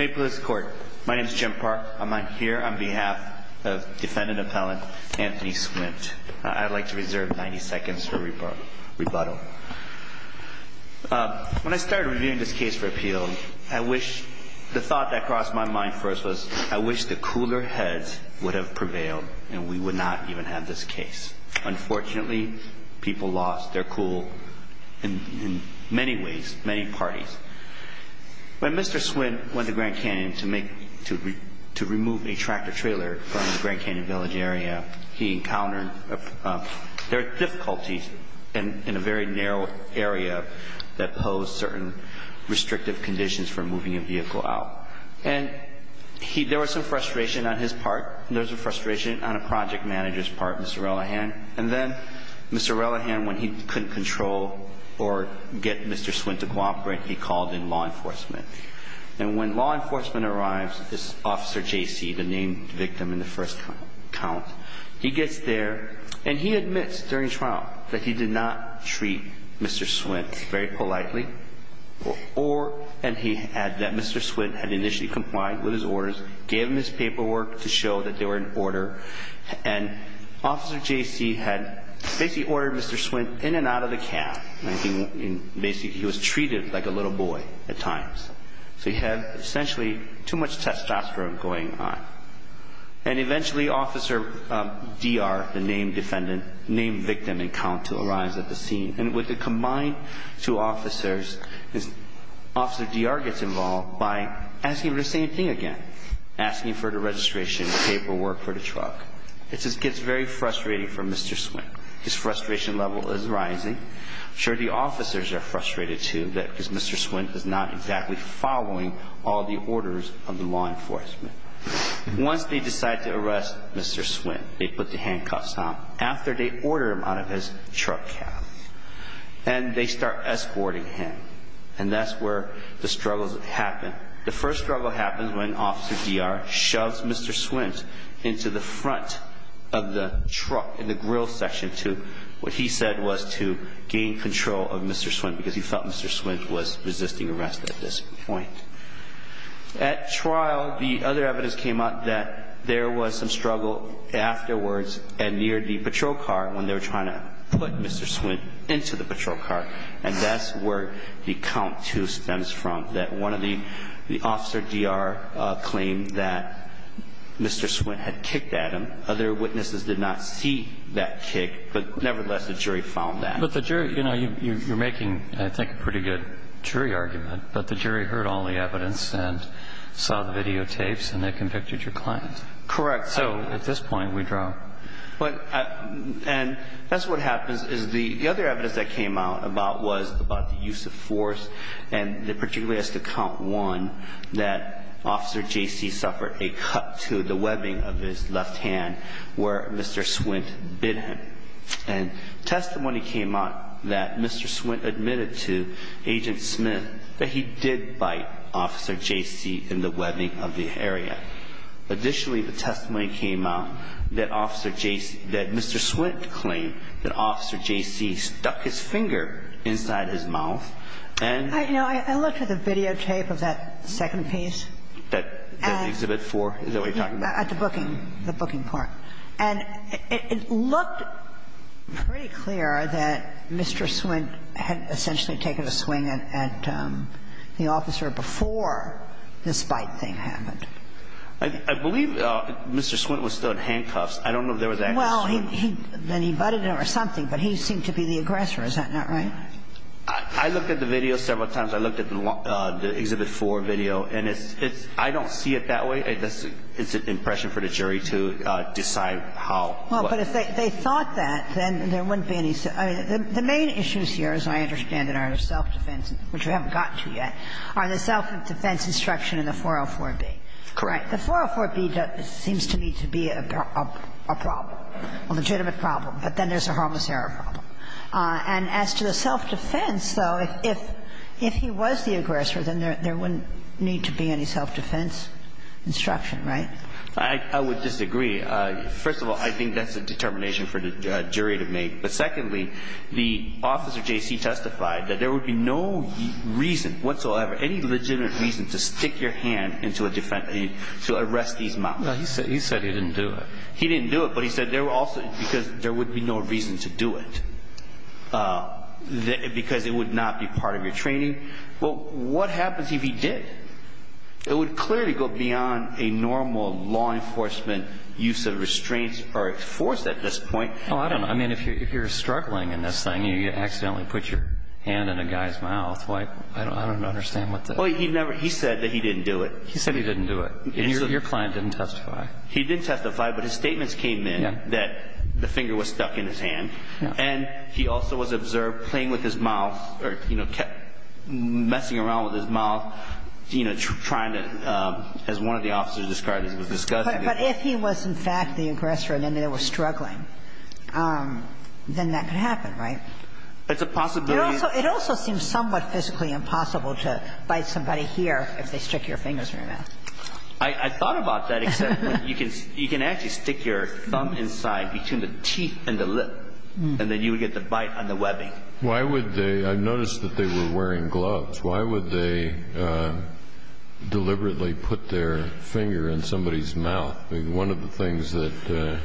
My name is Jim Park. I'm here on behalf of defendant appellant Anthony Swint. I'd like to reserve 90 seconds for rebuttal. When I started reviewing this case for appeal, the thought that crossed my mind first was I wish the cooler heads would have prevailed and we would not even have this case. Unfortunately, people lost their cool in many ways, many parties. When Mr. Swint went to Grand Canyon to remove a tractor trailer from the Grand Canyon Village area, he encountered difficulties in a very narrow area that posed certain restrictive conditions for moving a vehicle out. And there was some frustration on his part. There was a frustration on a project manager's part, Mr. Relahan. And then Mr. Relahan, when he couldn't control or get Mr. Swint to cooperate, he called in law enforcement. And when law enforcement arrives, this Officer JC, the named victim in the first count, he gets there and he admits during trial that he did not treat Mr. Swint very politely. Or, and he had that Mr. Swint had initially complied with his orders, gave him his paperwork to show that they were in order. And Officer JC had basically ordered Mr. Swint in and out of the cab. Basically, he was treated like a little boy at times. So he had essentially too much testosterone going on. And eventually, Officer DR, the named defendant, named victim in count, arrives at the scene. And with the combined two officers, Officer DR gets involved by asking for the same thing again. Asking for the registration paperwork for the truck. It just gets very frustrating for Mr. Swint. His frustration level is rising. I'm sure the officers are frustrated too because Mr. Swint is not exactly following all the orders of the law enforcement. Once they decide to arrest Mr. Swint, they put the handcuffs on him. After they order him out of his truck cab. And they start escorting him. And that's where the struggles happen. The first struggle happens when Officer DR shoves Mr. Swint into the front of the truck in the grill section to, what he said was to gain control of Mr. Swint. Because he felt Mr. Swint was resisting arrest at this point. At trial, the other evidence came out that there was some struggle afterwards near the patrol car when they were trying to put Mr. Swint into the patrol car. And that's where the count too stems from. That one of the Officer DR claimed that Mr. Swint had kicked at him. Other witnesses did not see that kick. But nevertheless, the jury found that. But the jury, you know, you're making I think a pretty good jury argument. But the jury heard all the evidence and saw the videotapes and they convicted your client. Correct. So at this point, we draw. And that's what happens is the other evidence that came out about was about the use of force. And particularly as to count one, that Officer JC suffered a cut to the webbing of his left hand where Mr. Swint bit him. And testimony came out that Mr. Swint admitted to Agent Smith that he did bite Officer JC in the webbing of the area. Additionally, the testimony came out that Officer JC, that Mr. Swint claimed that Officer JC stuck his finger inside his mouth and. You know, I looked at the videotape of that second piece. That Exhibit 4? Is that what you're talking about? At the booking, the booking part. And it looked pretty clear that Mr. Swint had essentially taken a swing at the officer before this bite thing happened. I believe Mr. Swint was still in handcuffs. I don't know if there was actually a swing. Well, then he butted him or something, but he seemed to be the aggressor. Is that not right? I looked at the video several times. I looked at the Exhibit 4 video. And it's – I don't see it that way. It's an impression for the jury to decide how. Well, but if they thought that, then there wouldn't be any – I mean, the main issues here, as I understand it, are self-defense, which we haven't gotten to yet, are the self-defense instruction in the 404b. Correct. The 404b seems to me to be a problem, a legitimate problem. But then there's a harmless error problem. And as to the self-defense, though, if he was the aggressor, then there wouldn't need to be any self-defense instruction, right? I would disagree. First of all, I think that's a determination for the jury to make. But secondly, the officer, J.C., testified that there would be no reason whatsoever, any legitimate reason to stick your hand into a defendant's – to arrest these mobsters. Well, he said he didn't do it. He didn't do it, but he said there were also – because there would be no reason to do it, because it would not be part of your training. Well, what happens if he did? It would clearly go beyond a normal law enforcement use of restraints or force at this point. Oh, I don't know. I mean, if you're struggling in this thing and you accidentally put your hand in a guy's mouth, I don't understand what the – Well, he never – he said that he didn't do it. He said he didn't do it. And your client didn't testify. He didn't testify, but his statements came in that the finger was stuck in his mouth or, you know, messing around with his mouth, you know, trying to, as one of the officers described, it was disgusting. But if he was, in fact, the aggressor and they were struggling, then that could happen, right? It's a possibility. It also seems somewhat physically impossible to bite somebody here if they stick your fingers in their mouth. I thought about that, except when you can – you can actually stick your thumb inside between the teeth and the lip, and then you would get the bite on the webbing. Why would they – I noticed that they were wearing gloves. Why would they deliberately put their finger in somebody's mouth? I mean, one of the things that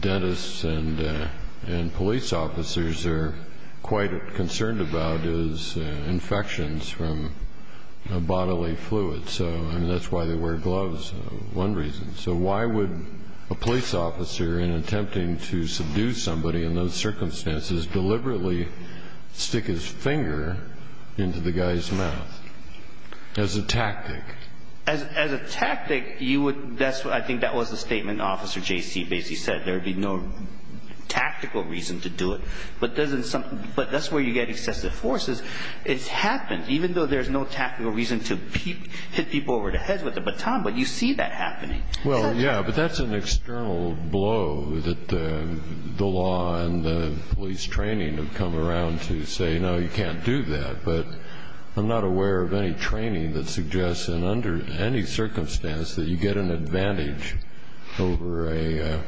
dentists and police officers are quite concerned about is infections from bodily fluids. So, I mean, that's why they wear gloves, one reason. So why would a police officer, in attempting to seduce somebody in those circumstances, deliberately stick his finger into the guy's mouth? As a tactic. As a tactic, you would – I think that was the statement Officer J.C. Basie said, there would be no tactical reason to do it. But that's where you get excessive forces. It's happened, even though there's no tactical reason to hit people over the baton, but you see that happening. Well, yeah, but that's an external blow that the law and the police training have come around to say, no, you can't do that. But I'm not aware of any training that suggests that under any circumstance that you get an advantage over a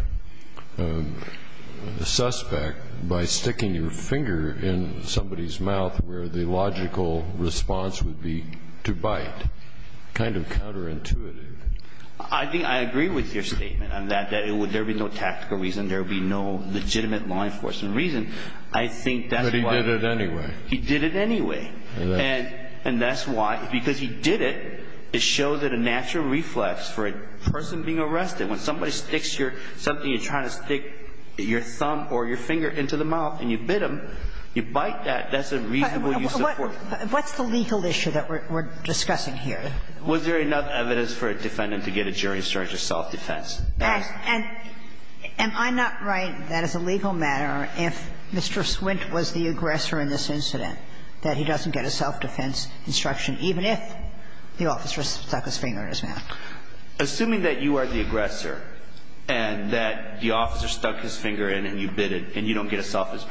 suspect by sticking your finger in somebody's mouth and you bite. Kind of counterintuitive. I think I agree with your statement on that, that there would be no tactical reason, there would be no legitimate law enforcement reason. I think that's why. But he did it anyway. He did it anyway. And that's why, because he did it, it shows that a natural reflex for a person being arrested, when somebody sticks your – something you're trying to stick your thumb or your finger into the mouth and you bit him, you bite that, that's a reasonable use of force. What's the legal issue that we're discussing here? Was there enough evidence for a defendant to get a jury charge of self-defense? And I'm not right that as a legal matter, if Mr. Swint was the aggressor in this incident, that he doesn't get a self-defense instruction, even if the officer stuck his finger in his mouth. Assuming that you are the aggressor and that the officer stuck his finger in and you bit it and you don't get a self-defense,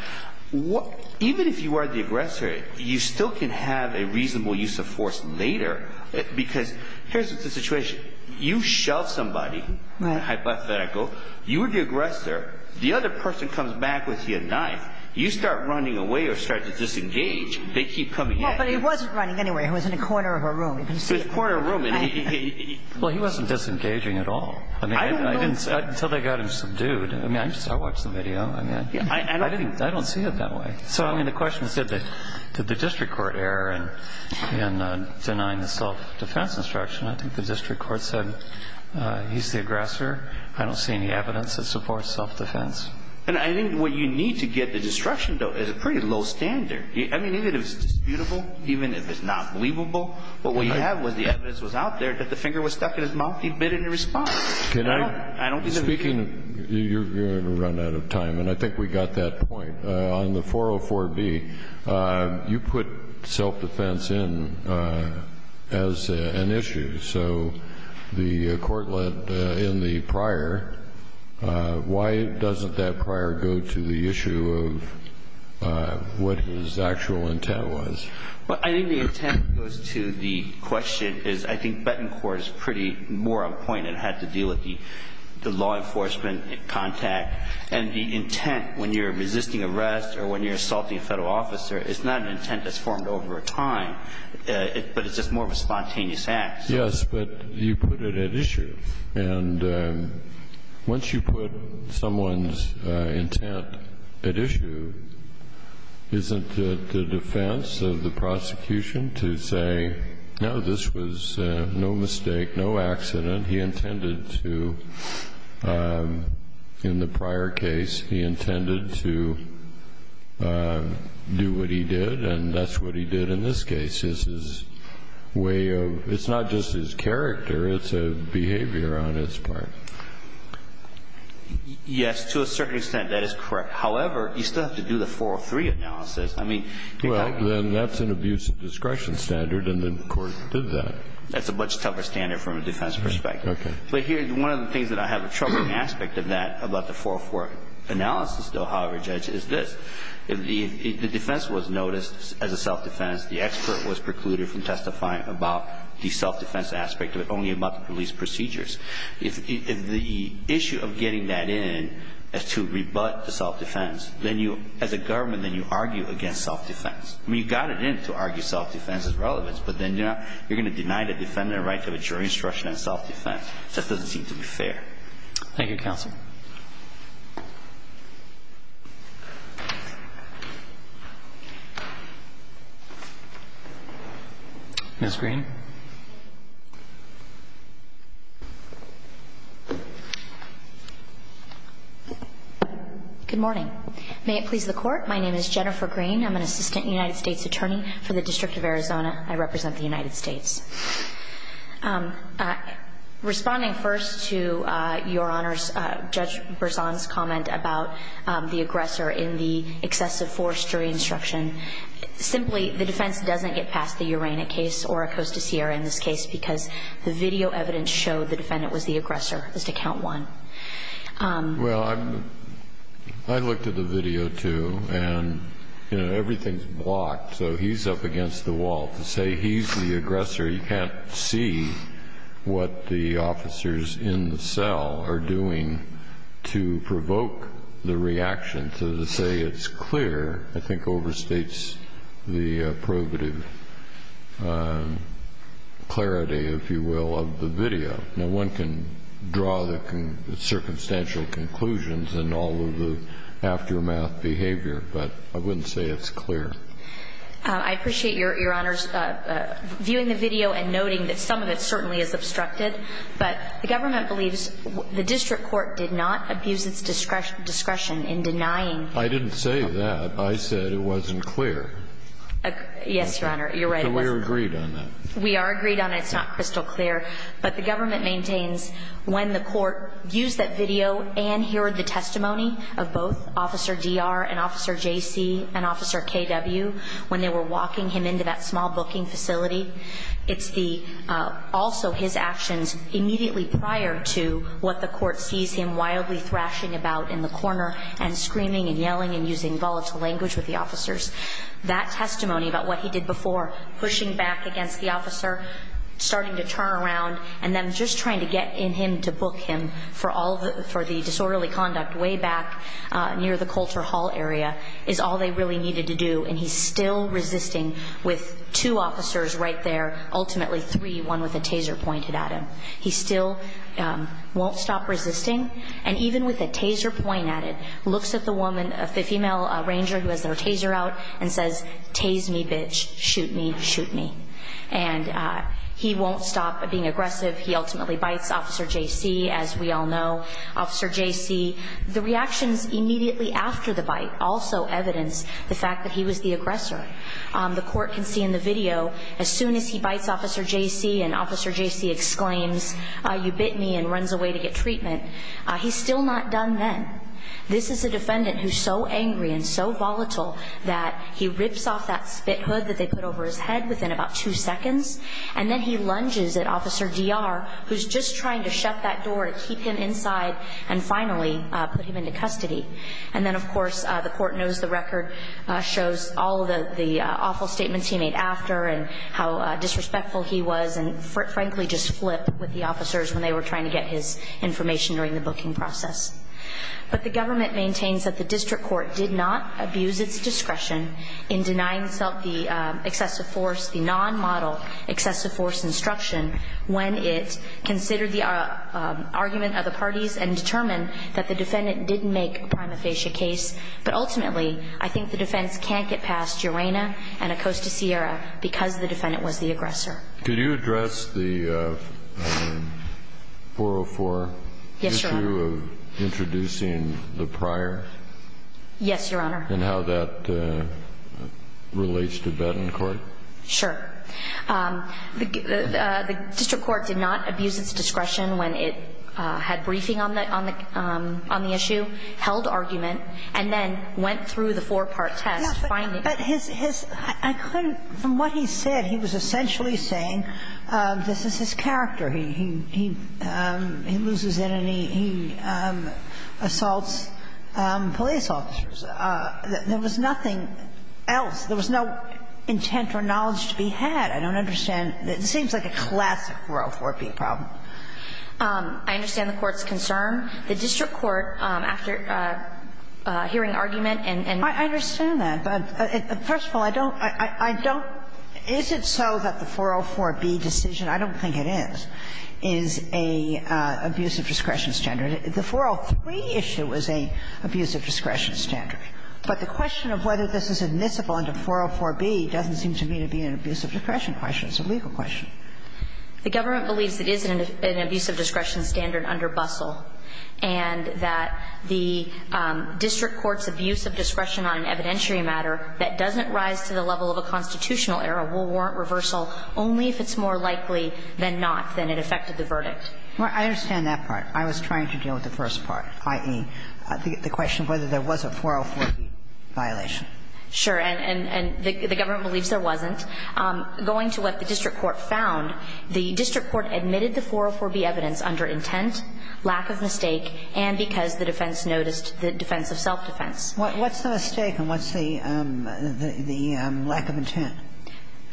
even if you are the aggressor, you still can have a reasonable use of force later. Because here's the situation. You shove somebody, hypothetical, you are the aggressor, the other person comes back with your knife, you start running away or start to disengage, they keep coming at you. Well, but he wasn't running anyway. He was in a corner of a room. He was in a corner of a room. Well, he wasn't disengaging at all. I mean, I didn't – until they got him subdued. I mean, I watched the video. I mean, I don't see it that way. So, I mean, the question is did the district court err in denying the self-defense instruction? I think the district court said he's the aggressor. I don't see any evidence that supports self-defense. And I think what you need to get the destruction, though, is a pretty low standard. I mean, even if it's disputable, even if it's not believable, but what you have was the evidence was out there that the finger was stuck in his mouth, he bit it in response. Can I – speaking of – you're going to run out of time, and I think we got that point. On the 404B, you put self-defense in as an issue. So the court led in the prior. Why doesn't that prior go to the issue of what his actual intent was? Well, I think the intent goes to the question is I think Betancourt is pretty more of a point that had to deal with the law enforcement contact. And the intent when you're resisting arrest or when you're assaulting a Federal officer, it's not an intent that's formed over time, but it's just more of a spontaneous act. Yes, but you put it at issue. And once you put someone's intent at issue, isn't it the defense of the prosecution to say, no, this was no mistake, no accident. He intended to, in the prior case, he intended to do what he did, and that's what he did in this case. It's his way of – it's not just his character. It's a behavior on its part. Yes, to a certain extent, that is correct. However, you still have to do the 403 analysis. Well, then that's an abuse of discretion standard, and the court did that. That's a much tougher standard from a defense perspective. Okay. But here, one of the things that I have a troubling aspect of that about the 404 analysis, though, however, Judge, is this. The defense was noticed as a self-defense. The expert was precluded from testifying about the self-defense aspect of it, only about the police procedures. If the issue of getting that in is to rebut the self-defense, then you, as a government, then you argue against self-defense. I mean, you got it in to argue self-defense is relevant, but then you're going to deny the defendant a right to have a jury instruction on self-defense. That doesn't seem to be fair. Thank you, Counsel. Ms. Green. Good morning. May it please the Court. My name is Jennifer Green. I'm an assistant United States attorney for the District of Arizona. I represent the United States. Responding first to Your Honors, Judge Berzon's comment about the aggressor in the excessive force jury instruction, simply, the defense doesn't get past the Uranic case or Acosta-Sierra in this case because the video evidence showed the defendant was the aggressor as to count one. Well, I looked at the video, too, and everything's blocked. So he's up against the wall. To say he's the aggressor, you can't see what the officers in the cell are doing to provoke the reaction. So to say it's clear, I think, overstates the probative clarity, if you will, of the video. Now, one can draw the circumstantial conclusions in all of the aftermath behavior, but I wouldn't say it's clear. I appreciate Your Honors viewing the video and noting that some of it certainly is obstructed. But the government believes the district court did not abuse its discretion in denying. I didn't say that. I said it wasn't clear. Yes, Your Honor. You're right. So we are agreed on that. We are agreed on it. It's not crystal clear. But the government maintains when the court used that video and heard the testimony of both Officer D.R. and Officer J.C. and Officer K.W. when they were walking him into that small booking facility, it's also his actions immediately prior to what the court sees him wildly thrashing about in the corner and screaming and yelling and using volatile language with the officers. And then just trying to get in him to book him for the disorderly conduct way back near the Coulter Hall area is all they really needed to do. And he's still resisting with two officers right there, ultimately three, one with a taser pointed at him. He still won't stop resisting. And even with a taser point at it, looks at the woman, the female ranger who has their taser out and says, Tase me, bitch. Shoot me. Shoot me. And he won't stop being aggressive. He ultimately bites Officer J.C., as we all know. Officer J.C., the reactions immediately after the bite also evidence the fact that he was the aggressor. The court can see in the video, as soon as he bites Officer J.C. and Officer J.C. exclaims, you bit me, and runs away to get treatment, he's still not done then. This is a defendant who's so angry and so volatile that he rips off that spit hood that they put over his head within about two seconds. And then he lunges at Officer D.R., who's just trying to shut that door to keep him inside and finally put him into custody. And then, of course, the court knows the record shows all the awful statements he made after and how disrespectful he was and, frankly, just flipped with the officers when they were trying to get his information during the booking process. But the government maintains that the district court did not abuse its discretion in denying itself the excessive force, the non-model excessive force instruction when it considered the argument of the parties and determined that the defendant didn't make a prima facie case. But ultimately, I think the defense can't get past Urena and Acosta Sierra because the defendant was the aggressor. Could you address the 404? Yes, Your Honor. The issue of introducing the prior? Yes, Your Honor. And how that relates to Bettencourt? Sure. The district court did not abuse its discretion when it had briefing on the issue, held argument, and then went through the four-part test finding. Yes, but his – I couldn't – from what he said, he was essentially saying this is his character. He loses it and he assaults police officers. There was nothing else. There was no intent or knowledge to be had. I don't understand. It seems like a classic 404B problem. I understand the Court's concern. The district court, after hearing argument and – I understand that. But first of all, I don't – I don't – is it so that the 404B decision – I don't think it is – is an abuse of discretion standard? The 403 issue is an abuse of discretion standard. But the question of whether this is admissible under 404B doesn't seem to me to be an abuse of discretion question. It's a legal question. The government believes it is an abuse of discretion standard under Bustle and that the district court's abuse of discretion on an evidentiary matter that doesn't rise to the level of a constitutional error will warrant reversal only if it's more likely than not that it affected the verdict. I understand that part. I was trying to deal with the first part, i.e., the question of whether there was a 404B violation. Sure. And the government believes there wasn't. Going to what the district court found, the district court admitted the 404B evidence under intent, lack of mistake, and because the defense noticed the defense of self-defense. What's the mistake and what's the lack of intent?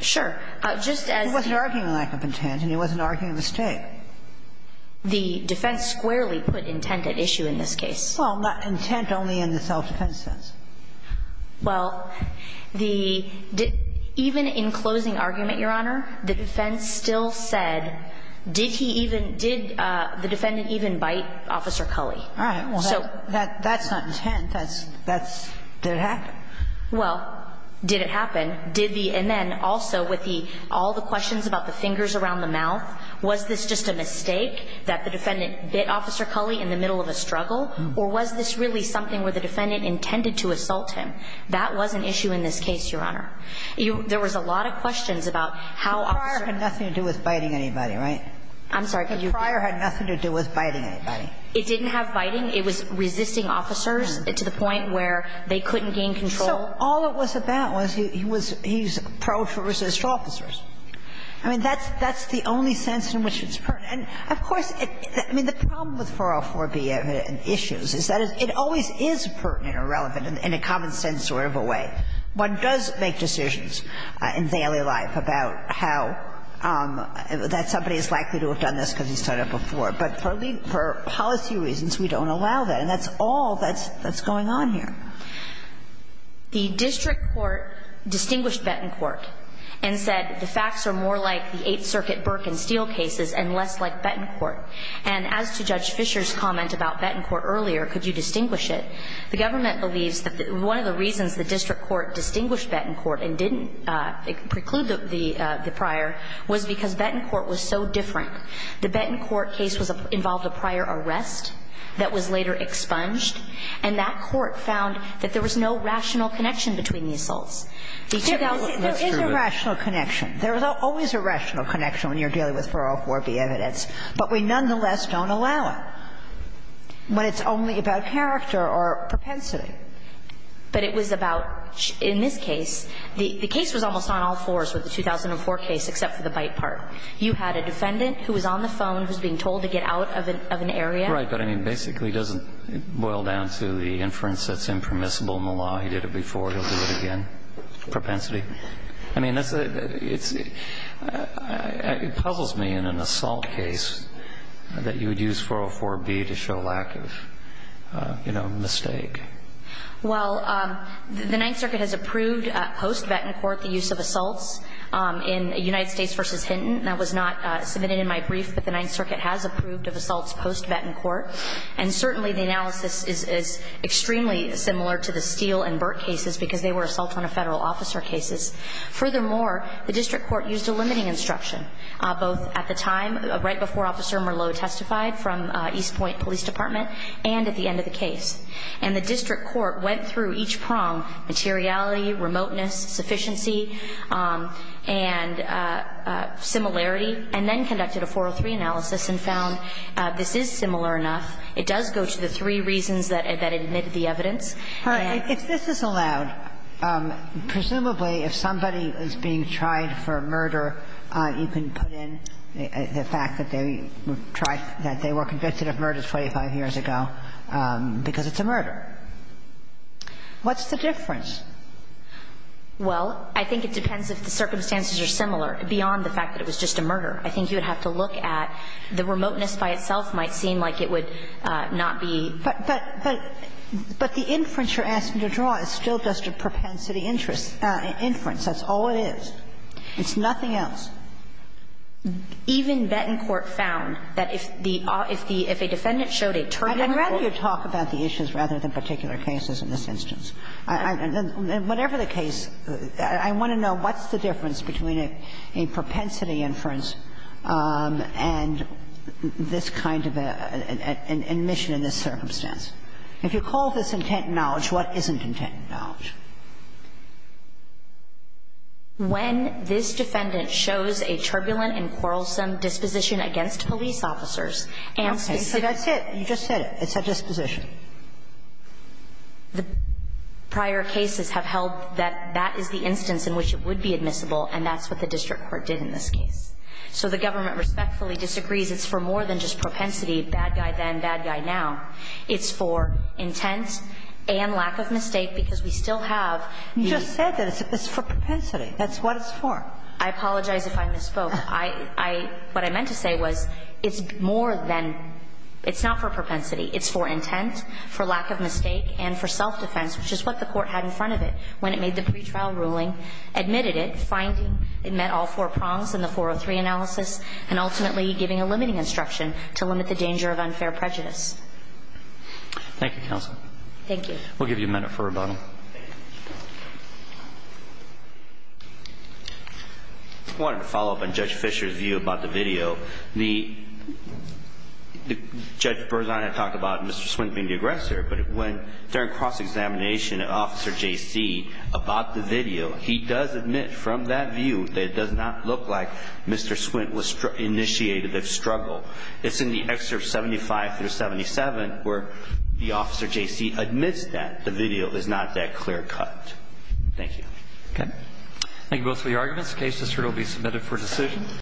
Sure. Just as the – It wasn't arguing a lack of intent and it wasn't arguing a mistake. The defense squarely put intent at issue in this case. Well, intent only in the self-defense sense. Well, the – even in closing argument, Your Honor, the defense still said, did he even – did the defendant even bite Officer Culley? All right. Well, that's not intent. That's – that's – did it happen? Well, did it happen? Did the – and then also with the – all the questions about the fingers around the mouth, was this just a mistake that the defendant bit Officer Culley in the middle of a struggle, or was this really something where the defendant intended to assault him? That was an issue in this case, Your Honor. There was a lot of questions about how Officer Culley – The prior had nothing to do with biting anybody, right? I'm sorry, could you – The prior had nothing to do with biting anybody. It didn't have biting. It was resisting officers to the point where they couldn't gain control. So all it was about was he was – he was pro-resist officers. I mean, that's – that's the only sense in which it's pertinent. And, of course, I mean, the problem with 404b and issues is that it always is pertinent or relevant in a common-sense sort of a way. One does make decisions in daily life about how – that somebody is likely to have done this because he's done it before. But for policy reasons, we don't allow that. And that's all that's going on here. The district court distinguished Betancourt and said the facts are more like the Eighth Circuit Burke and Steele cases and less like Betancourt. And as to Judge Fischer's comment about Betancourt earlier, could you distinguish it, the government believes that one of the reasons the district court distinguished Betancourt and didn't preclude the prior was because Betancourt was so different from Steele. The Betancourt case was – involved a prior arrest that was later expunged. And that court found that there was no rational connection between the assaults. The 2000 – that's true. There is a rational connection. There is always a rational connection when you're dealing with 404b evidence, but we nonetheless don't allow it when it's only about character or propensity. But it was about – in this case, the case was almost on all fours with the 2004 case except for the bite part. You had a defendant who was on the phone who was being told to get out of an area. Right. But, I mean, basically it doesn't boil down to the inference that's impermissible in the law. He did it before. He'll do it again. Propensity. I mean, it's – it puzzles me in an assault case that you would use 404b to show lack of, you know, mistake. Well, the Ninth Circuit has approved post-Betancourt the use of assaults in United States. That was not submitted in my brief, but the Ninth Circuit has approved of assaults post-Betancourt. And, certainly, the analysis is extremely similar to the Steele and Burt cases because they were assault on a federal officer cases. Furthermore, the district court used a limiting instruction both at the time, right before Officer Merleau testified from East Point Police Department, and at the end of the case. And the district court went through each prong, materiality, remoteness, sufficiency, and similarity, and then conducted a 403 analysis and found this is similar enough. It does go to the three reasons that it admitted the evidence. And I have to say that I'm not sure that's the case. Ginsburg. If this is allowed, presumably if somebody is being tried for murder, you can put in the fact that they were convicted of murder 25 years ago because it's a murder. What's the difference? Well, I think it depends if the circumstances are similar, beyond the fact that it was just a murder. I think you would have to look at the remoteness by itself might seem like it would not be. But the inference you're asking to draw is still just a propensity inference. That's all it is. It's nothing else. Even Betancourt found that if the – if the – if a defendant showed a turbulent motive. I'd rather you talk about the issues rather than particular cases in this instance. And whatever the case, I want to know what's the difference between a propensity inference and this kind of admission in this circumstance. If you call this intent and knowledge, what isn't intent and knowledge? When this defendant shows a turbulent and quarrelsome disposition against police officers. Okay. So that's it. You just said it. It's a disposition. The prior cases have held that that is the instance in which it would be admissible, and that's what the district court did in this case. So the government respectfully disagrees it's for more than just propensity, bad guy then, bad guy now. It's for intent and lack of mistake, because we still have the – You just said that it's for propensity. That's what it's for. I apologize if I misspoke. I – I – what I meant to say was it's more than – it's not for propensity. It's for intent, for lack of mistake, and for self-defense, which is what the court had in front of it when it made the pretrial ruling, admitted it, finding it met all four prongs in the 403 analysis, and ultimately giving a limiting instruction to limit the danger of unfair prejudice. Thank you, counsel. Thank you. We'll give you a minute for rebuttal. I wanted to follow up on Judge Fischer's view about the video. The – Judge Berzahn had talked about Mr. Swint being the aggressor, but when during cross-examination, Officer J.C. about the video, he does admit from that view that it does not look like Mr. Swint was – initiated the struggle. It's in the excerpt 75 through 77 where the Officer J.C. admits that the video is not that clear-cut. Thank you. Okay. Thank you both for your arguments. The case will be submitted for decision.